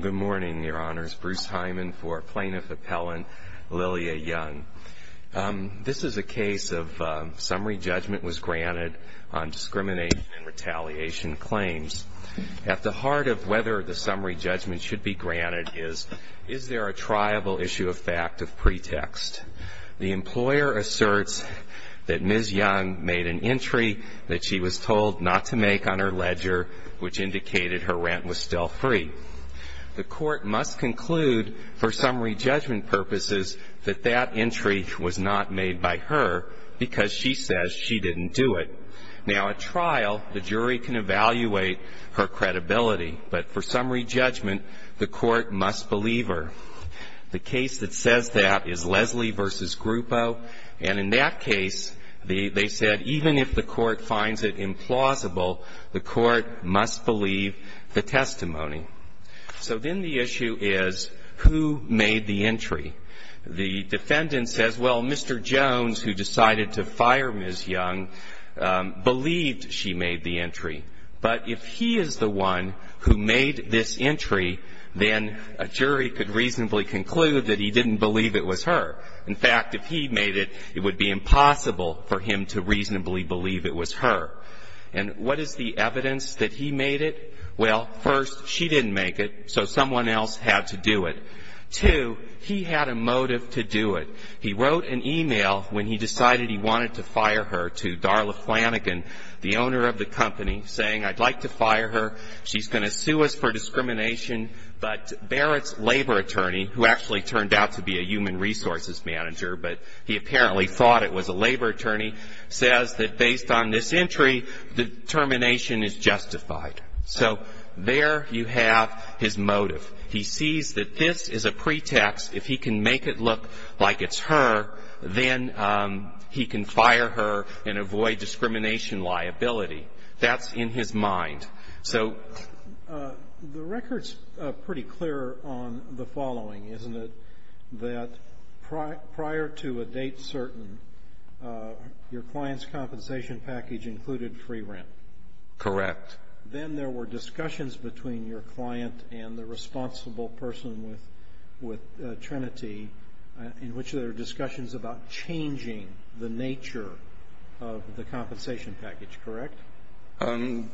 Good morning, Your Honors. Bruce Hyman for Plaintiff Appellant, Lilia Young. This is a case of summary judgment was granted on discrimination and retaliation claims. At the heart of whether the summary judgment should be granted is, is there a triable issue of fact of pretext? The employer asserts that Ms. was told not to make on her ledger, which indicated her rent was still free. The court must conclude for summary judgment purposes that that entry was not made by her because she says she didn't do it. Now at trial, the jury can evaluate her credibility, but for summary judgment, the court must believe her. The case that says that is Leslie versus Grupo, and in that case, they said even if the court finds it implausible, the court must believe the testimony. So then the issue is, who made the entry? The defendant says, well, Mr. Jones, who decided to fire Ms. Young, believed she made the entry. But if he is the one who made this entry, he didn't believe it was her. In fact, if he made it, it would be impossible for him to reasonably believe it was her. And what is the evidence that he made it? Well, first, she didn't make it, so someone else had to do it. Two, he had a motive to do it. He wrote an e-mail when he decided he wanted to fire her to Darla Flanagan, the owner of the company, saying I'd like to fire her, she's going to sue us for discrimination. But Barrett's labor attorney, who actually turned out to be a human resources manager, but he apparently thought it was a labor attorney, says that based on this entry, the termination is justified. So there you have his motive. He sees that this is a pretext. If he can make it look like it's her, then he can fire her and avoid discrimination liability. That's in his mind. The record's pretty clear on the following, isn't it? That prior to a date certain, your client's compensation package included free rent. Correct. Then there were discussions between your client and the responsible person with Trinity in which there were discussions about changing the nature of the compensation package, correct?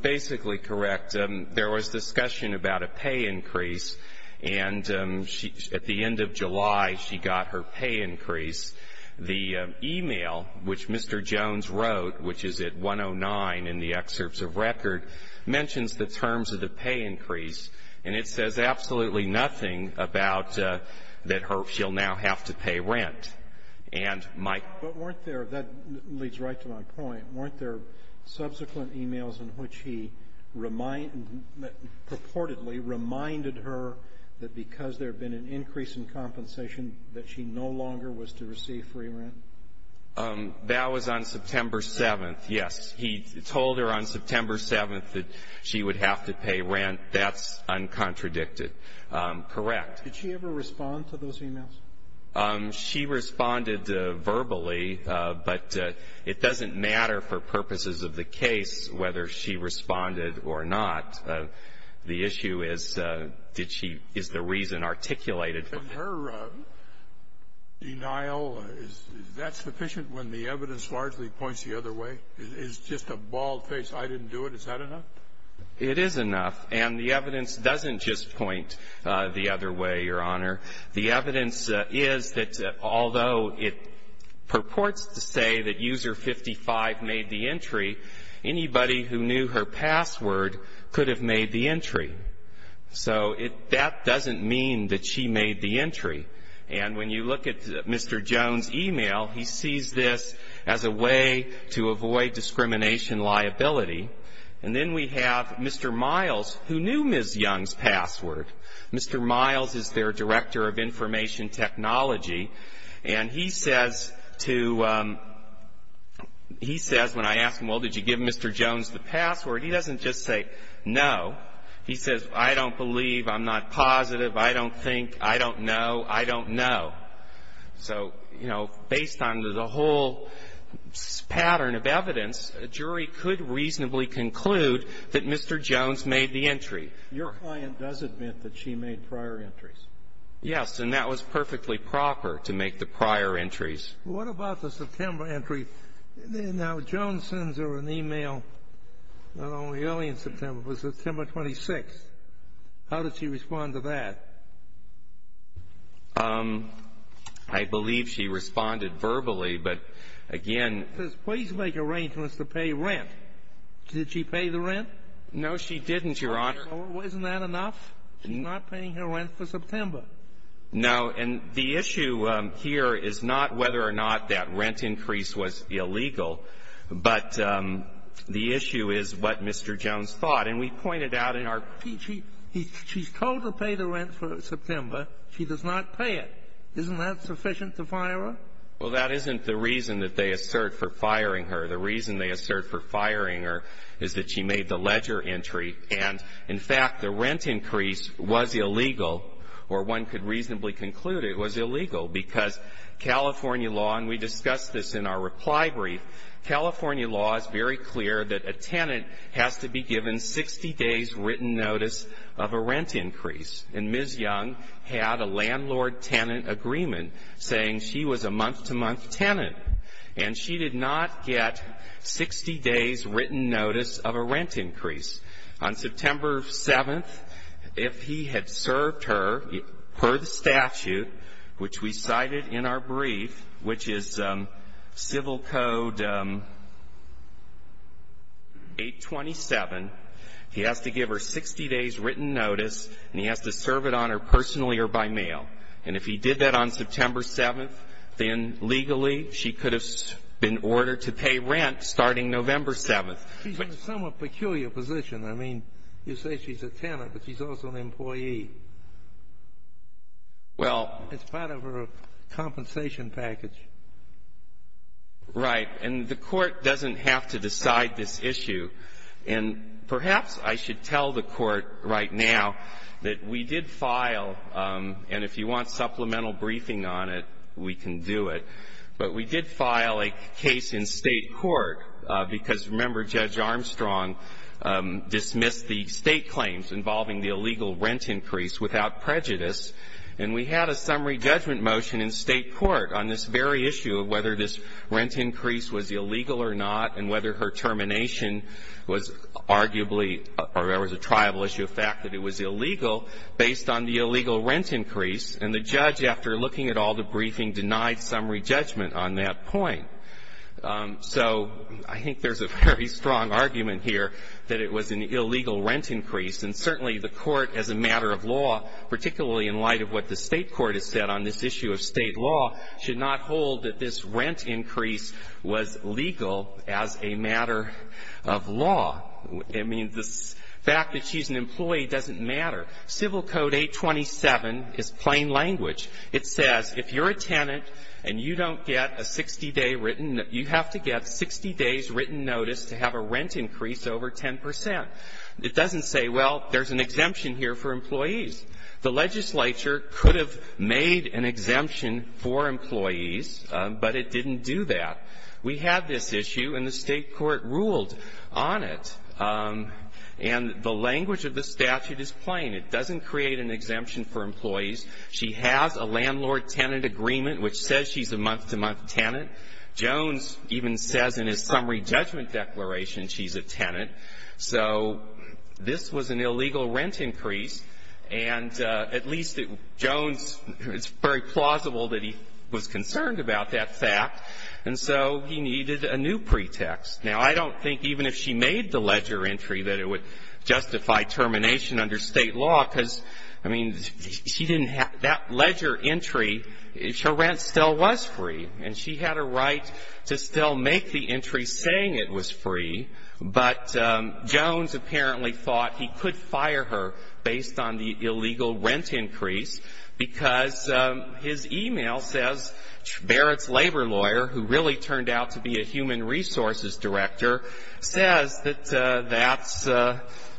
Basically correct. There was discussion about a pay increase, and at the end of July, she got her pay increase. The e-mail, which Mr. Jones wrote, which is at 109 in the excerpts of record, mentions the terms of the pay increase, and it says absolutely nothing about that she'll now have to pay rent. And my question is, weren't there, that leads right to my point, weren't there subsequent e-mails in which he purportedly reminded her that because there had been an increase in compensation that she no longer was to receive free rent? That was on September 7th, yes. He told her on September 7th that she would have to pay rent. That's uncontradicted. Correct. Did she ever respond to those e-mails? She responded verbally, but it doesn't matter for purposes of the case whether she responded or not. The issue is, did she, is the reason articulated. And her denial, is that sufficient when the evidence largely points the other way? It's just a bald face, I didn't do it. Is that enough? It is enough. And the evidence doesn't just point the other way, Your Honor. The evidence is that although it purports to say that user 55 made the entry, anybody who knew her password could have made the entry. So that doesn't mean that she made the entry. And when you look at Mr. Jones' e-mail, he sees this as a way to avoid discrimination liability. And then we have Mr. Miles, who knew Ms. Young's password. Mr. Miles is their Director of Information Technology, and he says to, he says when I ask him, well, did you give Mr. Jones the password, he doesn't just say no. He says, I don't believe, I'm not positive, I don't think, I don't know, I don't know. So, you know, based on the whole pattern of evidence, a jury could reasonably conclude that Mr. Jones made the entry. Your client does admit that she made prior entries. Yes. And that was perfectly proper to make the prior entries. What about the September entry? Now, Jones sends her an e-mail not only early in September, but it was September 26th. How did she respond to that? I believe she responded verbally, but again ---- She says, please make arrangements to pay rent. Did she pay the rent? No, she didn't, Your Honor. Wasn't that enough? She's not paying her rent for September. No. And the issue here is not whether or not that rent increase was illegal, but the issue is what Mr. Jones thought. And we pointed out in our ---- She's told to pay the rent for September. She does not pay it. Isn't that sufficient to fire her? Well, that isn't the reason that they assert for firing her. The reason they assert for firing her is that she made the ledger entry. And, in fact, the rent increase was illegal, or one could reasonably conclude it was illegal, because California law, and we discussed this in our reply brief, California law is very clear that a tenant has to be given 60 days' written notice of a rent increase. And Ms. Young had a landlord-tenant agreement saying she was a month-to-month tenant, and she did not get 60 days' written notice of a rent increase. On September 7th, if he had served her, per the statute, which we cited in our brief, which is Civil Code 827, he has to give her 60 days' written notice, and he has to serve it on her personally or by mail. And if he did that on September 7th, then legally she could have been ordered to pay rent starting November 7th. She's in a somewhat peculiar position. I mean, you say she's a tenant, but she's also an employee. Well. It's part of her compensation package. Right. And the Court doesn't have to decide this issue. And perhaps I should tell the Court right now that we did file, and if you want supplemental briefing on it, we can do it, but we did file a case in State court because, remember, Judge Armstrong dismissed the State claims involving the illegal rent increase without prejudice. And we had a summary judgment motion in State court on this very issue of whether this rent increase was illegal or not and whether her termination was arguably or there was a triable issue of fact that it was illegal based on the illegal rent increase. And the judge, after looking at all the briefing, denied summary judgment on that point. So I think there's a very strong argument here that it was an illegal rent increase. And certainly the Court, as a matter of law, particularly in light of what the State court has said on this issue of State law, should not hold that this rent increase was legal as a matter of law. I mean, the fact that she's an employee doesn't matter. Civil Code 827 is plain language. It says if you're a tenant and you don't get a 60-day written, you have to get 60 days written notice to have a rent increase over 10 percent. It doesn't say, well, there's an exemption here for employees. The legislature could have made an exemption for employees, but it didn't do that. We had this issue, and the State court ruled on it. And the language of the statute is plain. It doesn't create an exemption for employees. She has a landlord-tenant agreement which says she's a month-to-month tenant. Jones even says in his summary judgment declaration she's a tenant. So this was an illegal rent increase, and at least Jones, it's very plausible that he was concerned about that fact, and so he needed a new pretext. Now, I don't think even if she made the ledger entry that it would justify termination under State law, because, I mean, she didn't have that ledger entry. Her rent still was free, and she had a right to still make the entry saying it was free, but Jones apparently thought he could fire her based on the illegal rent increase because his e-mail says Barrett's labor lawyer, who really turned out to be a human resources director, says that that's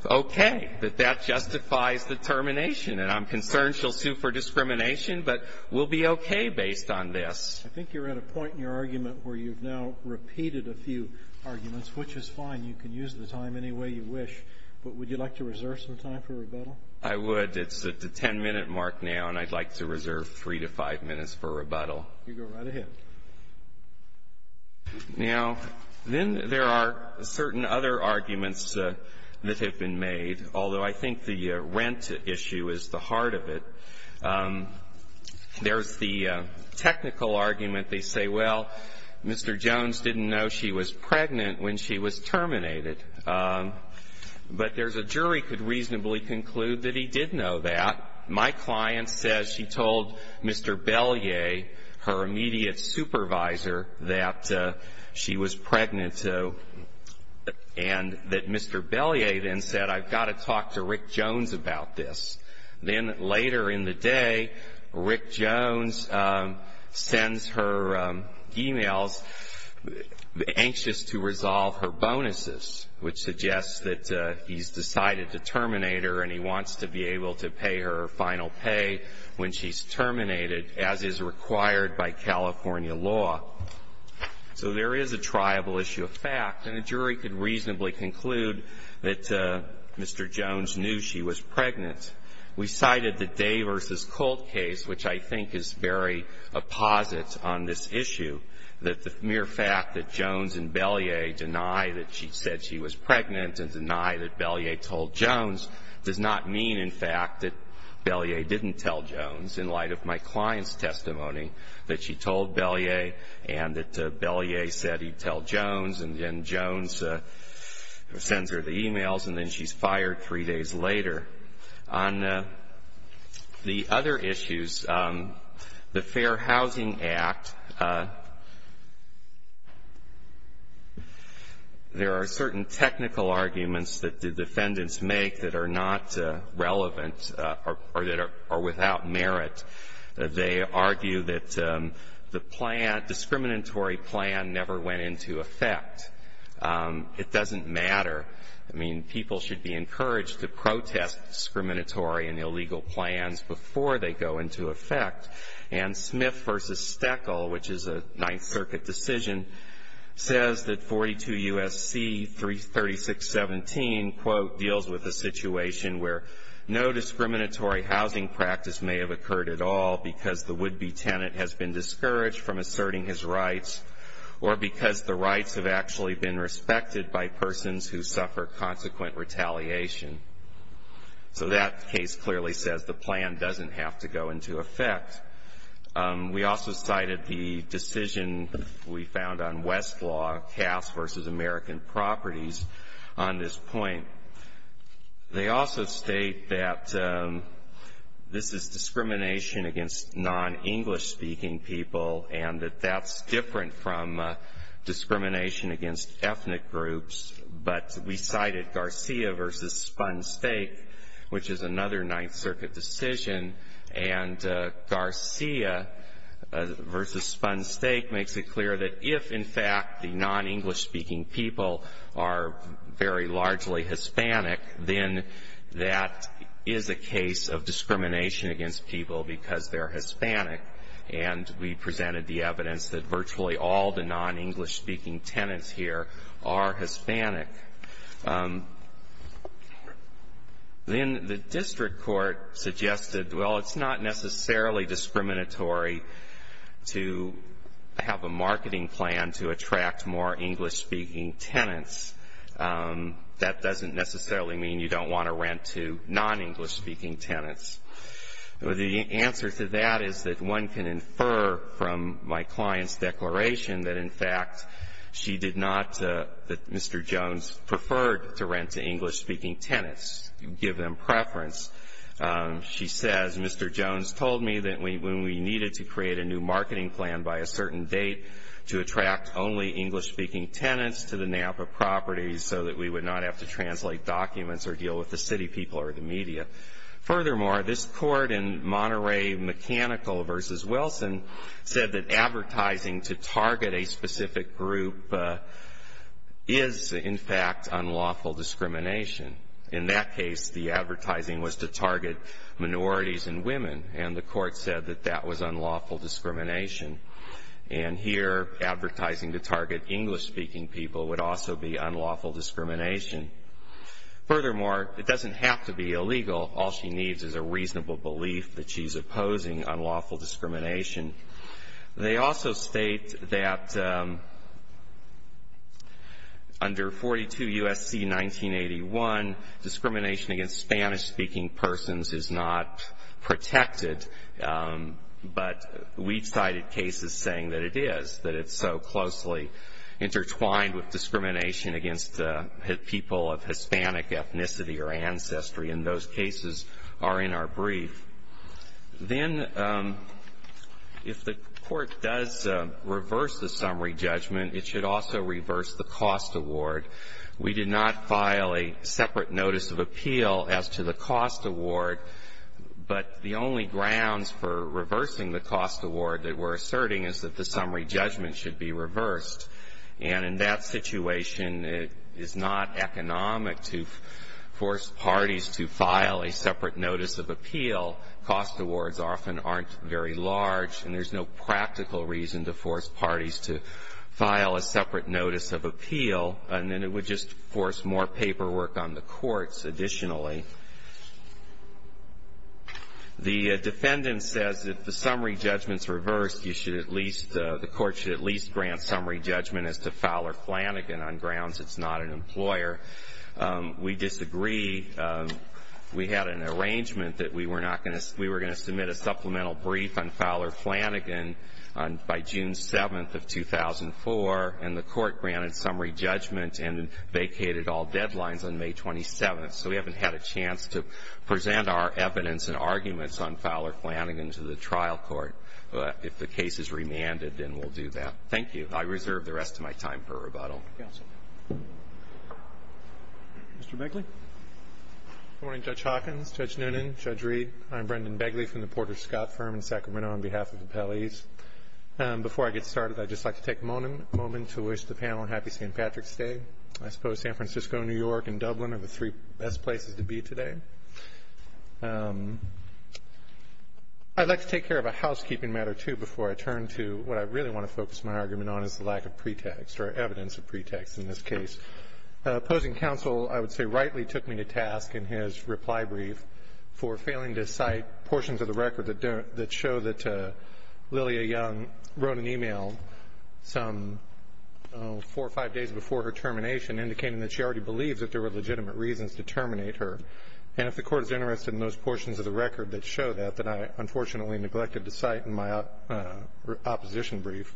okay, that that justifies the termination. And I'm concerned she'll sue for discrimination, but we'll be okay based on this. I think you're at a point in your argument where you've now repeated a few arguments, which is fine. You can use the time any way you wish. But would you like to reserve some time for rebuttal? I would. It's at the 10-minute mark now, and I'd like to reserve 3 to 5 minutes for rebuttal. You go right ahead. Now, then there are certain other arguments that have been made, although I think the rent issue is the heart of it. There's the technical argument. They say, well, Mr. Jones didn't know she was pregnant when she was terminated. But there's a jury could reasonably conclude that he did know that. My client says she told Mr. Bellier, her immediate supervisor, that she was pregnant, and that Mr. Bellier then said, I've got to talk to Rick Jones about this. Then later in the day, Rick Jones sends her emails anxious to resolve her bonuses, which suggests that he's decided to terminate her and he wants to be able to pay her final pay when she's terminated, as is required by California law. So there is a triable issue of fact, and a jury could reasonably conclude that Mr. Jones knew she was pregnant. We cited the Day v. Colt case, which I think is very opposite on this issue, that the mere fact that Jones and Bellier deny that she said she was pregnant and deny that Bellier told Jones does not mean, in fact, that Bellier didn't tell Jones, in light of my client's testimony, that she told Bellier and that Bellier said he'd tell Jones, and then Jones sends her the emails and then she's fired three days later. On the other issues, the Fair Housing Act, there are certain technical arguments that the defendants make that are not relevant or that are without merit. They argue that the plan, discriminatory plan, never went into effect. It doesn't matter. I mean, people should be encouraged to protest discriminatory and illegal plans before they go into effect. And Smith v. Steckle, which is a Ninth Circuit decision, says that 42 U.S.C. 336.17, quote, deals with a situation where no discriminatory housing practice may have occurred at all because the would-be tenant has been discouraged from asserting his rights or because the rights have actually been respected by persons who suffer consequent retaliation. So that case clearly says the plan doesn't have to go into effect. We also cited the decision we found on Westlaw, Cass v. American Properties, on this point. They also state that this is discrimination against non-English-speaking people and that that's different from discrimination against ethnic groups. But we cited Garcia v. Spun Steak, which is another Ninth Circuit decision, and Garcia v. Spun Steak makes it clear that if, in fact, the non-English-speaking people are very largely Hispanic, then that is a case of discrimination against people because they're Hispanic. And we presented the evidence that virtually all the non-English-speaking tenants here are Hispanic. Then the district court suggested, well, it's not necessarily discriminatory to have a marketing plan to attract more English-speaking tenants. That doesn't necessarily mean you don't want to rent to non-English-speaking tenants. Well, the answer to that is that one can infer from my client's declaration that, in fact, she did not, that Mr. Jones preferred to rent to English-speaking tenants, give them preference. She says, Mr. Jones told me that when we needed to create a new marketing plan by a certain date to attract only English-speaking tenants to the Napa properties so that we would not have to translate documents or deal with the city people or the media. Furthermore, this court in Monterey Mechanical v. Wilson said that advertising to target a specific group is, in fact, unlawful discrimination. In that case, the advertising was to target minorities and women, and the court said that that was unlawful discrimination. And here, advertising to target English-speaking people would also be unlawful discrimination. Furthermore, it doesn't have to be illegal. All she needs is a reasonable belief that she's opposing unlawful discrimination. They also state that under 42 U.S.C. 1981, discrimination against Spanish-speaking persons is not protected, but we cited cases saying that it is, that it's so closely intertwined with discrimination against people of Hispanic ethnicity or ancestry, and those cases are in our brief. Then if the court does reverse the summary judgment, it should also reverse the cost award. We did not file a separate notice of appeal as to the cost award, but the only grounds for reversing the cost award that we're asserting is that the summary judgment should be reversed. And in that situation, it is not economic to force parties to file a separate notice of appeal. Cost awards often aren't very large, and there's no practical reason to force parties to file a separate notice of appeal. And then it would just force more paperwork on the courts, additionally. The defendant says that if the summary judgment's reversed, you should at least, the court should at least grant summary judgment as to Fowler Flanagan on grounds it's not an employer. We disagree. We had an arrangement that we were not going to, we were going to submit a supplemental brief on Fowler Flanagan by June 7th of 2004, and the court granted summary judgment and vacated all deadlines on May 27th. So we haven't had a chance to present our evidence and arguments on Fowler Flanagan to the trial court. If the case is remanded, then we'll do that. Thank you. I reserve the rest of my time for rebuttal. Mr. Begley. Good morning, Judge Hawkins, Judge Noonan, Judge Reed. I'm Brendan Begley from the Porter Scott Firm in Sacramento on behalf of the appellees. Before I get started, I'd just like to take a moment to wish the panel a happy St. Patrick's Day. I suppose San Francisco, New York, and Dublin are the three best places to be today. I'd like to take care of a housekeeping matter, too, before I turn to what I really want to focus my argument on is the lack of pretext or evidence of pretext in this case. Opposing counsel, I would say, rightly took me to task in his reply brief for failing to cite portions of the record that show that Lilia Young wrote an email some four or five days before her termination indicating that she already believes that there were legitimate reasons to terminate her. And if the Court is interested in those portions of the record that show that, that I unfortunately neglected to cite in my opposition brief,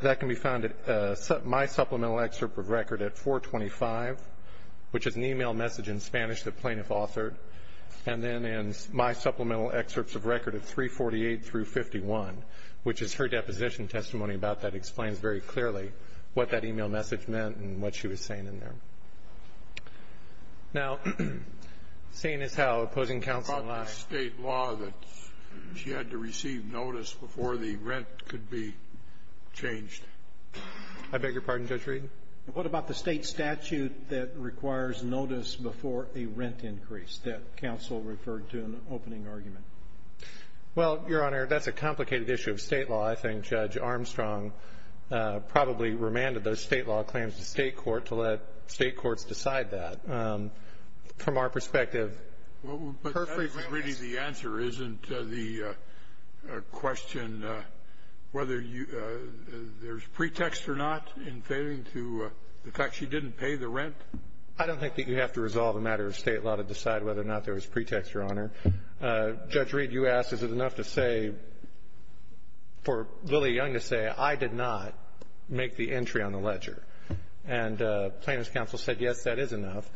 that can be found in my supplemental excerpt of record at 425, which is an email message in Spanish the plaintiff authored, and then in my supplemental excerpts of record at 348 through 51, which is her deposition testimony about that explains very clearly what that email message meant and what she was saying in there. Now, seeing as how opposing counsel lied. What about the state law that she had to receive notice before the rent could be changed? I beg your pardon, Judge Reed? What about the state statute that requires notice before a rent increase that counsel referred to in the opening argument? Well, Your Honor, that's a complicated issue of state law. I think Judge Armstrong probably remanded those state law claims to state court to let state courts decide that. From our perspective. But that isn't really the answer, isn't the question whether there's pretext or not in failing to, the fact she didn't pay the rent? I don't think that you have to resolve a matter of state law to decide whether or not there was pretext, Your Honor. Judge Reed, you asked is it enough to say, for Lily Young to say, I did not make the entry on the ledger. And plaintiff's counsel said, yes, that is enough.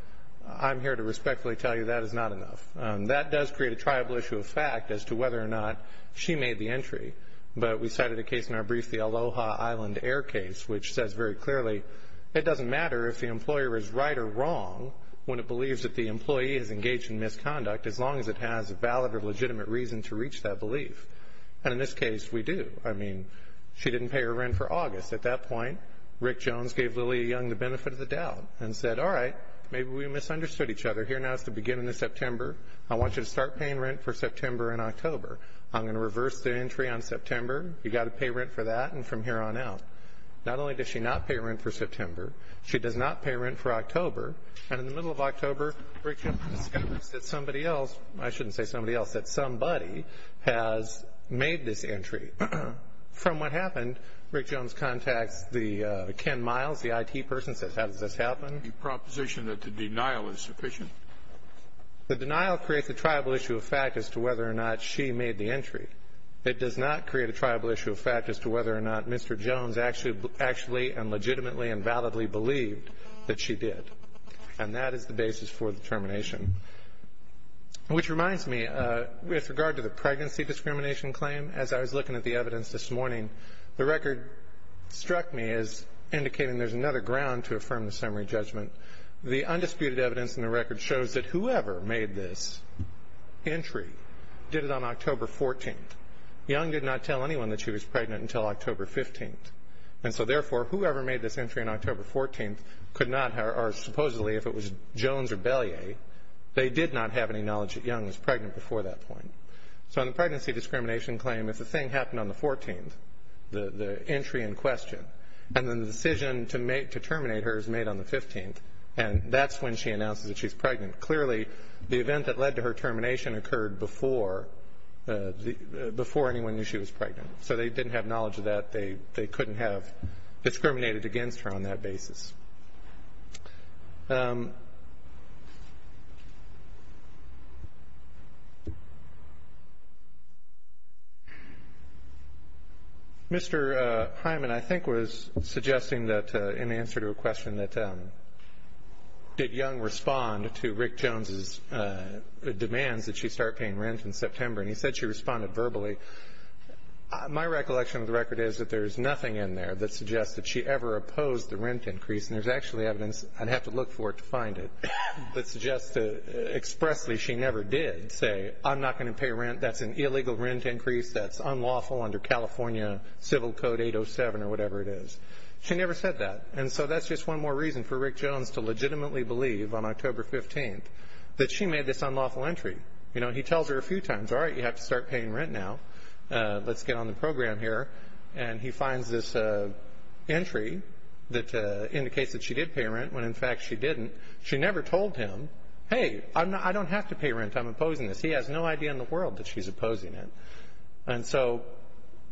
I'm here to respectfully tell you that is not enough. That does create a triable issue of fact as to whether or not she made the entry. But we cited a case in our brief, the Aloha Island Air case, which says very clearly, it doesn't matter if the employer is right or wrong when it believes that the employee is engaged in misconduct, as long as it has a valid or legitimate reason to reach that belief. And in this case, we do. I mean, she didn't pay her rent for August. At that point, Rick Jones gave Lily Young the benefit of the doubt and said, all right, maybe we misunderstood each other. Here now is the beginning of September. I want you to start paying rent for September and October. I'm going to reverse the entry on September. You've got to pay rent for that and from here on out. And in the middle of October, Rick Jones discovers that somebody else, I shouldn't say somebody else, that somebody has made this entry. From what happened, Rick Jones contacts the Ken Miles, the IT person, says, how does this happen? The proposition that the denial is sufficient. The denial creates a triable issue of fact as to whether or not she made the entry. It does not create a triable issue of fact as to whether or not Mr. Jones actually and legitimately and validly believed that she did. And that is the basis for the termination. Which reminds me, with regard to the pregnancy discrimination claim, as I was looking at the evidence this morning, the record struck me as indicating there's another ground to affirm the summary judgment. The undisputed evidence in the record shows that whoever made this entry did it on October 14th. Young did not tell anyone that she was pregnant until October 15th. And so, therefore, whoever made this entry on October 14th could not, or supposedly if it was Jones or Belyea, they did not have any knowledge that Young was pregnant before that point. So in the pregnancy discrimination claim, if the thing happened on the 14th, the entry in question, and then the decision to terminate her is made on the 15th, and that's when she announces that she's pregnant, clearly the event that led to her termination occurred before anyone knew she was pregnant. So they didn't have knowledge of that. They couldn't have discriminated against her on that basis. Mr. Hyman, I think, was suggesting that in answer to a question that did Young respond to Rick Jones' demands that she start paying rent in September, and he said she responded verbally. My recollection of the record is that there's nothing in there that suggests that she ever opposed the rent increase, and there's actually evidence, I'd have to look for it to find it, that suggests expressly she never did say, I'm not going to pay rent, that's an illegal rent increase, that's unlawful under California Civil Code 807 or whatever it is. She never said that. And so that's just one more reason for Rick Jones to legitimately believe on October 15th that she made this unlawful entry. He tells her a few times, all right, you have to start paying rent now. Let's get on the program here. And he finds this entry that indicates that she did pay rent when, in fact, she didn't. She never told him, hey, I don't have to pay rent. I'm opposing this. He has no idea in the world that she's opposing it. And so,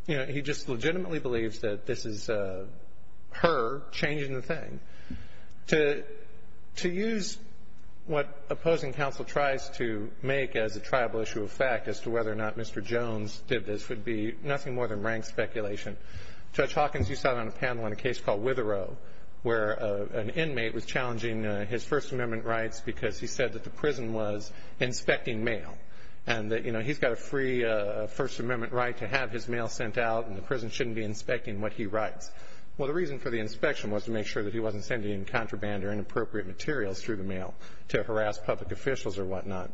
you know, he just legitimately believes that this is her changing the thing. To use what opposing counsel tries to make as a tribal issue of fact as to whether or not Mr. Jones did this would be nothing more than rank speculation. Judge Hawkins, you sat on a panel in a case called Witherow, where an inmate was challenging his First Amendment rights because he said that the prison was inspecting mail and that, you know, he's got a free First Amendment right to have his mail sent out and the prison shouldn't be inspecting what he writes. Well, the reason for the inspection was to make sure that he wasn't sending in contraband or inappropriate materials through the mail to harass public officials or whatnot.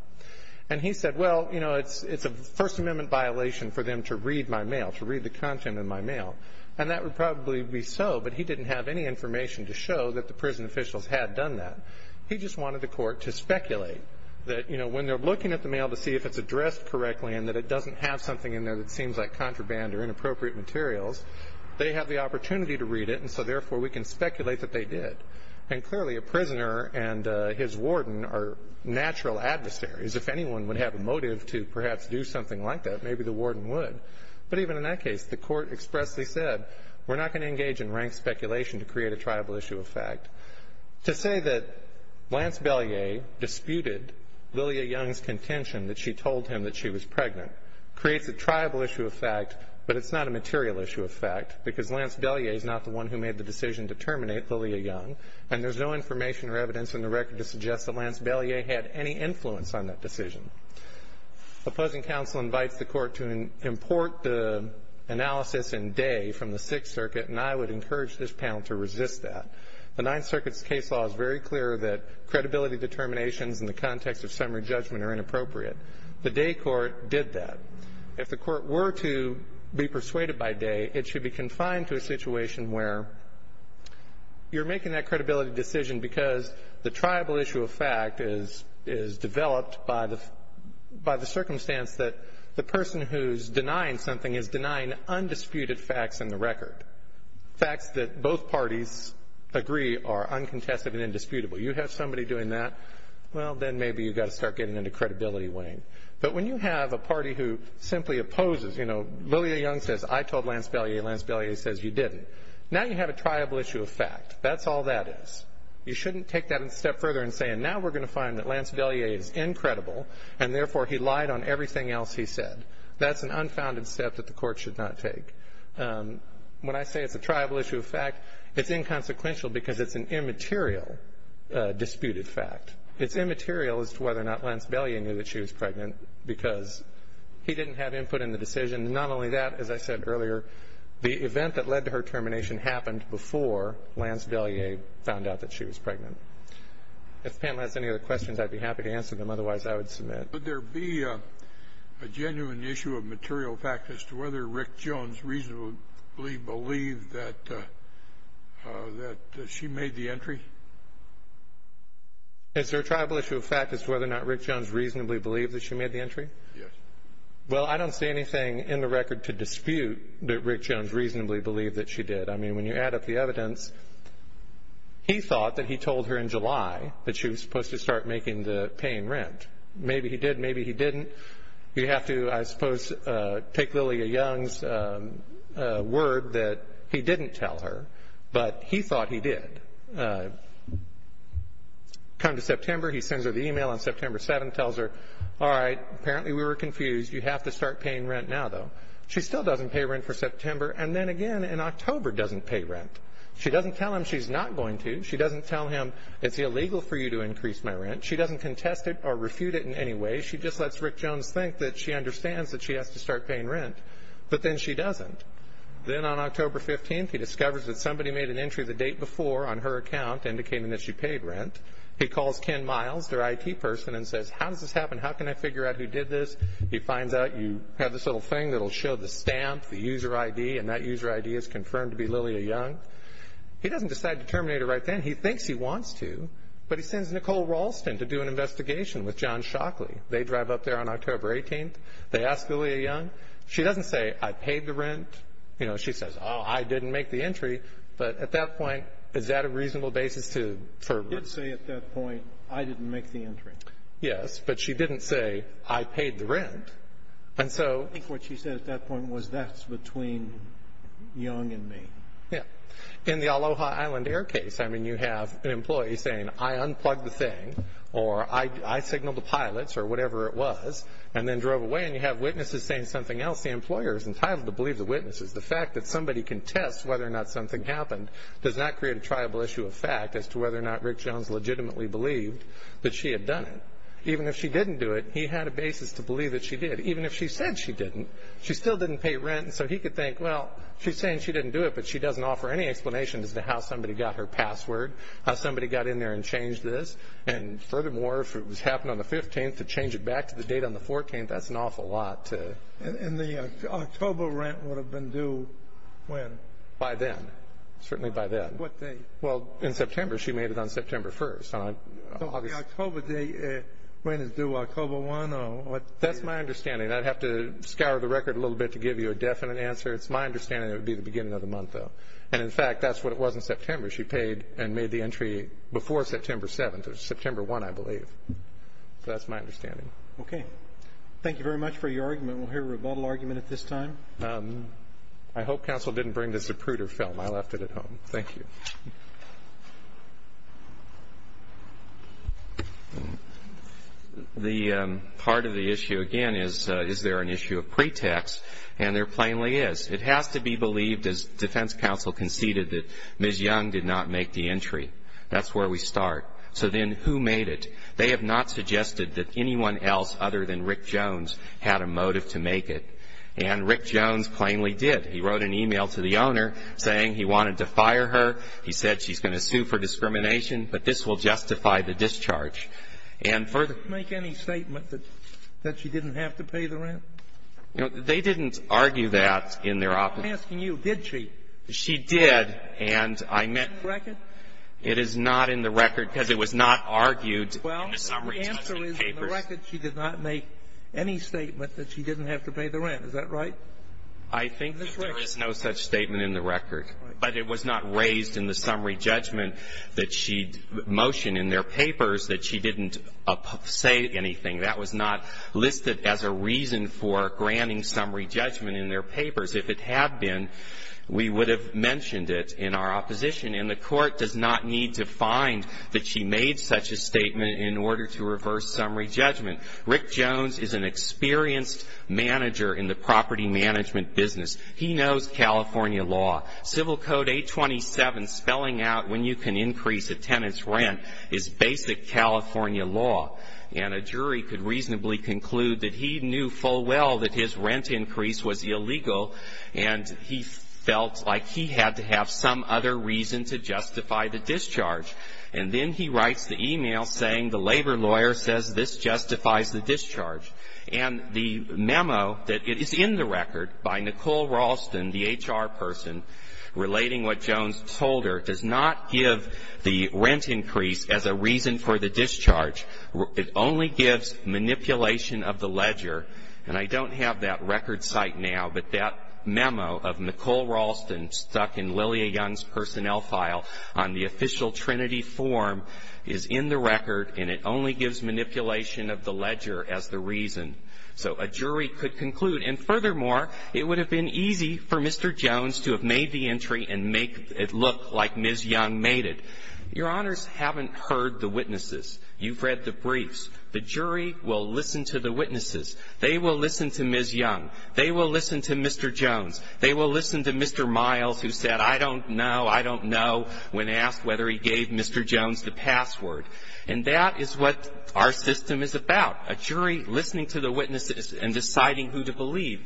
And he said, well, you know, it's a First Amendment violation for them to read my mail, to read the content in my mail, and that would probably be so, but he didn't have any information to show that the prison officials had done that. He just wanted the court to speculate that, you know, when they're looking at the mail to see if it's addressed correctly and that it doesn't have something in there that seems like contraband or inappropriate materials, they have the opportunity to read it and so, therefore, we can speculate that they did. And clearly, a prisoner and his warden are natural adversaries. If anyone would have a motive to perhaps do something like that, maybe the warden would. But even in that case, the court expressly said, we're not going to engage in rank speculation to create a tribal issue of fact. To say that Lance Belyea disputed Lillia Young's contention that she told him that she was pregnant creates a tribal issue of fact, but it's not a material issue of fact because Lance Belyea is not the one who made the decision to terminate Lillia Young, and there's no information or evidence in the record to suggest that Lance Belyea had any influence on that decision. Opposing counsel invites the court to import the analysis in Dey from the Sixth Circuit, and I would encourage this panel to resist that. The Ninth Circuit's case law is very clear that credibility determinations in the context of summary judgment are inappropriate. The Dey court did that. If the court were to be persuaded by Dey, it should be confined to a situation where you're making that credibility decision because the tribal issue of fact is developed by the circumstance that the person who's denying something is denying undisputed facts in the record. Facts that both parties agree are uncontested and indisputable. You have somebody doing that, well, then maybe you've got to start getting into credibility weighing. But when you have a party who simply opposes, you know, Lillia Young says, I told Lance Belyea, and Lance Belyea says you didn't, now you have a tribal issue of fact. That's all that is. You shouldn't take that a step further and say, and now we're going to find that Lance Belyea is incredible, and therefore he lied on everything else he said. That's an unfounded step that the court should not take. When I say it's a tribal issue of fact, it's inconsequential because it's an immaterial disputed fact. It's immaterial as to whether or not Lance Belyea knew that she was pregnant because he didn't have input in the decision. Not only that, as I said earlier, the event that led to her termination happened before Lance Belyea found out that she was pregnant. If the panel has any other questions, I'd be happy to answer them. Otherwise, I would submit. Would there be a genuine issue of material fact as to whether Rick Jones reasonably believed that she made the entry? Is there a tribal issue of fact as to whether or not Rick Jones reasonably believed that she made the entry? Yes. Well, I don't see anything in the record to dispute that Rick Jones reasonably believed that she did. I mean, when you add up the evidence, he thought that he told her in July that she was supposed to start making the paying rent. Maybe he did. Maybe he didn't. You have to, I suppose, take Lillia Young's word that he didn't tell her, but he thought he did. Come to September, he sends her the e-mail on September 7, tells her, all right, apparently we were confused. You have to start paying rent now, though. She still doesn't pay rent for September, and then again in October doesn't pay rent. She doesn't tell him she's not going to. She doesn't tell him it's illegal for you to increase my rent. She doesn't contest it or refute it in any way. She just lets Rick Jones think that she understands that she has to start paying rent. But then she doesn't. Then on October 15th, he discovers that somebody made an entry the date before on her account indicating that she paid rent. He calls Ken Miles, their IT person, and says, how does this happen? How can I figure out who did this? He finds out you have this little thing that will show the stamp, the user ID, and that user ID is confirmed to be Lillia Young. He doesn't decide to terminate her right then. He thinks he wants to, but he sends Nicole Ralston to do an investigation with John Shockley. They drive up there on October 18th. They ask Lillia Young. She doesn't say, I paid the rent. You know, she says, oh, I didn't make the entry. But at that point, is that a reasonable basis to – She did say at that point, I didn't make the entry. Yes, but she didn't say, I paid the rent. And so – I think what she said at that point was that's between Young and me. Yeah. In the Aloha Island Air case, I mean, you have an employee saying, I unplugged the thing, or I signaled the pilots, or whatever it was, and then drove away, and you have witnesses saying something else. The employer is entitled to believe the witnesses. The fact that somebody can test whether or not something happened does not create a triable issue of fact as to whether or not Rick Jones legitimately believed that she had done it. Even if she didn't do it, he had a basis to believe that she did. Even if she said she didn't, she still didn't pay rent. And so he could think, well, she's saying she didn't do it, but she doesn't offer any explanation as to how somebody got her password, how somebody got in there and changed this. And furthermore, if it was happening on the 15th, to change it back to the date on the 14th, that's an awful lot to – And the October rent would have been due when? By then. Certainly by then. What date? Well, in September. She made it on September 1st. So the October day rent is due October 1 or – That's my understanding. I'd have to scour the record a little bit to give you a definite answer. It's my understanding it would be the beginning of the month, though. And, in fact, that's what it was in September. She paid and made the entry before September 7th or September 1, I believe. So that's my understanding. Okay. Thank you very much for your argument. We'll hear a rebuttal argument at this time. I hope counsel didn't bring the Zapruder film. I left it at home. Thank you. The part of the issue, again, is is there an issue of pretext? And there plainly is. It has to be believed, as defense counsel conceded, that Ms. Young did not make the entry. That's where we start. So then who made it? They have not suggested that anyone else other than Rick Jones had a motive to make it. And Rick Jones plainly did. He wrote an e-mail to the owner saying he wanted to fire her. He said she's going to sue for discrimination. But this will justify the discharge. And further ---- Did she make any statement that she didn't have to pay the rent? They didn't argue that in their opinion. I'm asking you, did she? She did. And I meant ---- Is it in the record? It is not in the record because it was not argued in the summary judgment papers. Well, the answer is in the record she did not make any statement that she didn't have to pay the rent. Is that right? I think there is no such statement in the record. But it was not raised in the summary judgment that she'd motioned in their papers that she didn't say anything. That was not listed as a reason for granting summary judgment in their papers. If it had been, we would have mentioned it in our opposition. And the Court does not need to find that she made such a statement in order to reverse summary judgment. Rick Jones is an experienced manager in the property management business. He knows California law. Civil Code 827 spelling out when you can increase a tenant's rent is basic California law. And a jury could reasonably conclude that he knew full well that his rent increase was illegal and he felt like he had to have some other reason to justify the discharge. And then he writes the email saying the labor lawyer says this justifies the discharge. And the memo that is in the record by Nicole Raulston, the HR person, relating what Jones told her, does not give the rent increase as a reason for the discharge. It only gives manipulation of the ledger. And I don't have that record site now, but that memo of Nicole Raulston stuck in Lillia Young's personnel file on the official Trinity form is in the record and it only gives manipulation of the ledger as the reason. So a jury could conclude. And furthermore, it would have been easy for Mr. Jones to have made the entry and make it look like Ms. Young made it. Your Honors haven't heard the witnesses. You've read the briefs. The jury will listen to the witnesses. They will listen to Ms. Young. They will listen to Mr. Jones. They will listen to Mr. Miles who said, I don't know, I don't know, when asked whether he gave Mr. Jones the password. And that is what our system is about, a jury listening to the witnesses and deciding who to believe.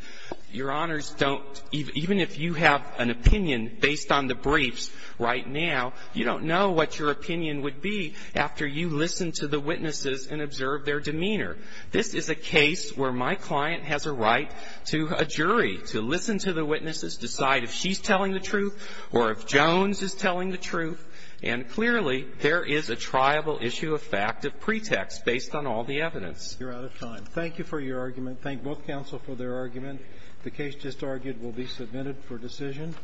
Your Honors don't, even if you have an opinion based on the briefs right now, you don't know what your opinion would be after you listen to the witnesses and observe their demeanor. This is a case where my client has a right to a jury to listen to the witnesses, decide if she's telling the truth or if Jones is telling the truth. And clearly there is a triable issue of fact of pretext based on all the evidence. You're out of time. Thank you for your argument. Thank both counsel for their argument. The case just argued will be submitted for decision.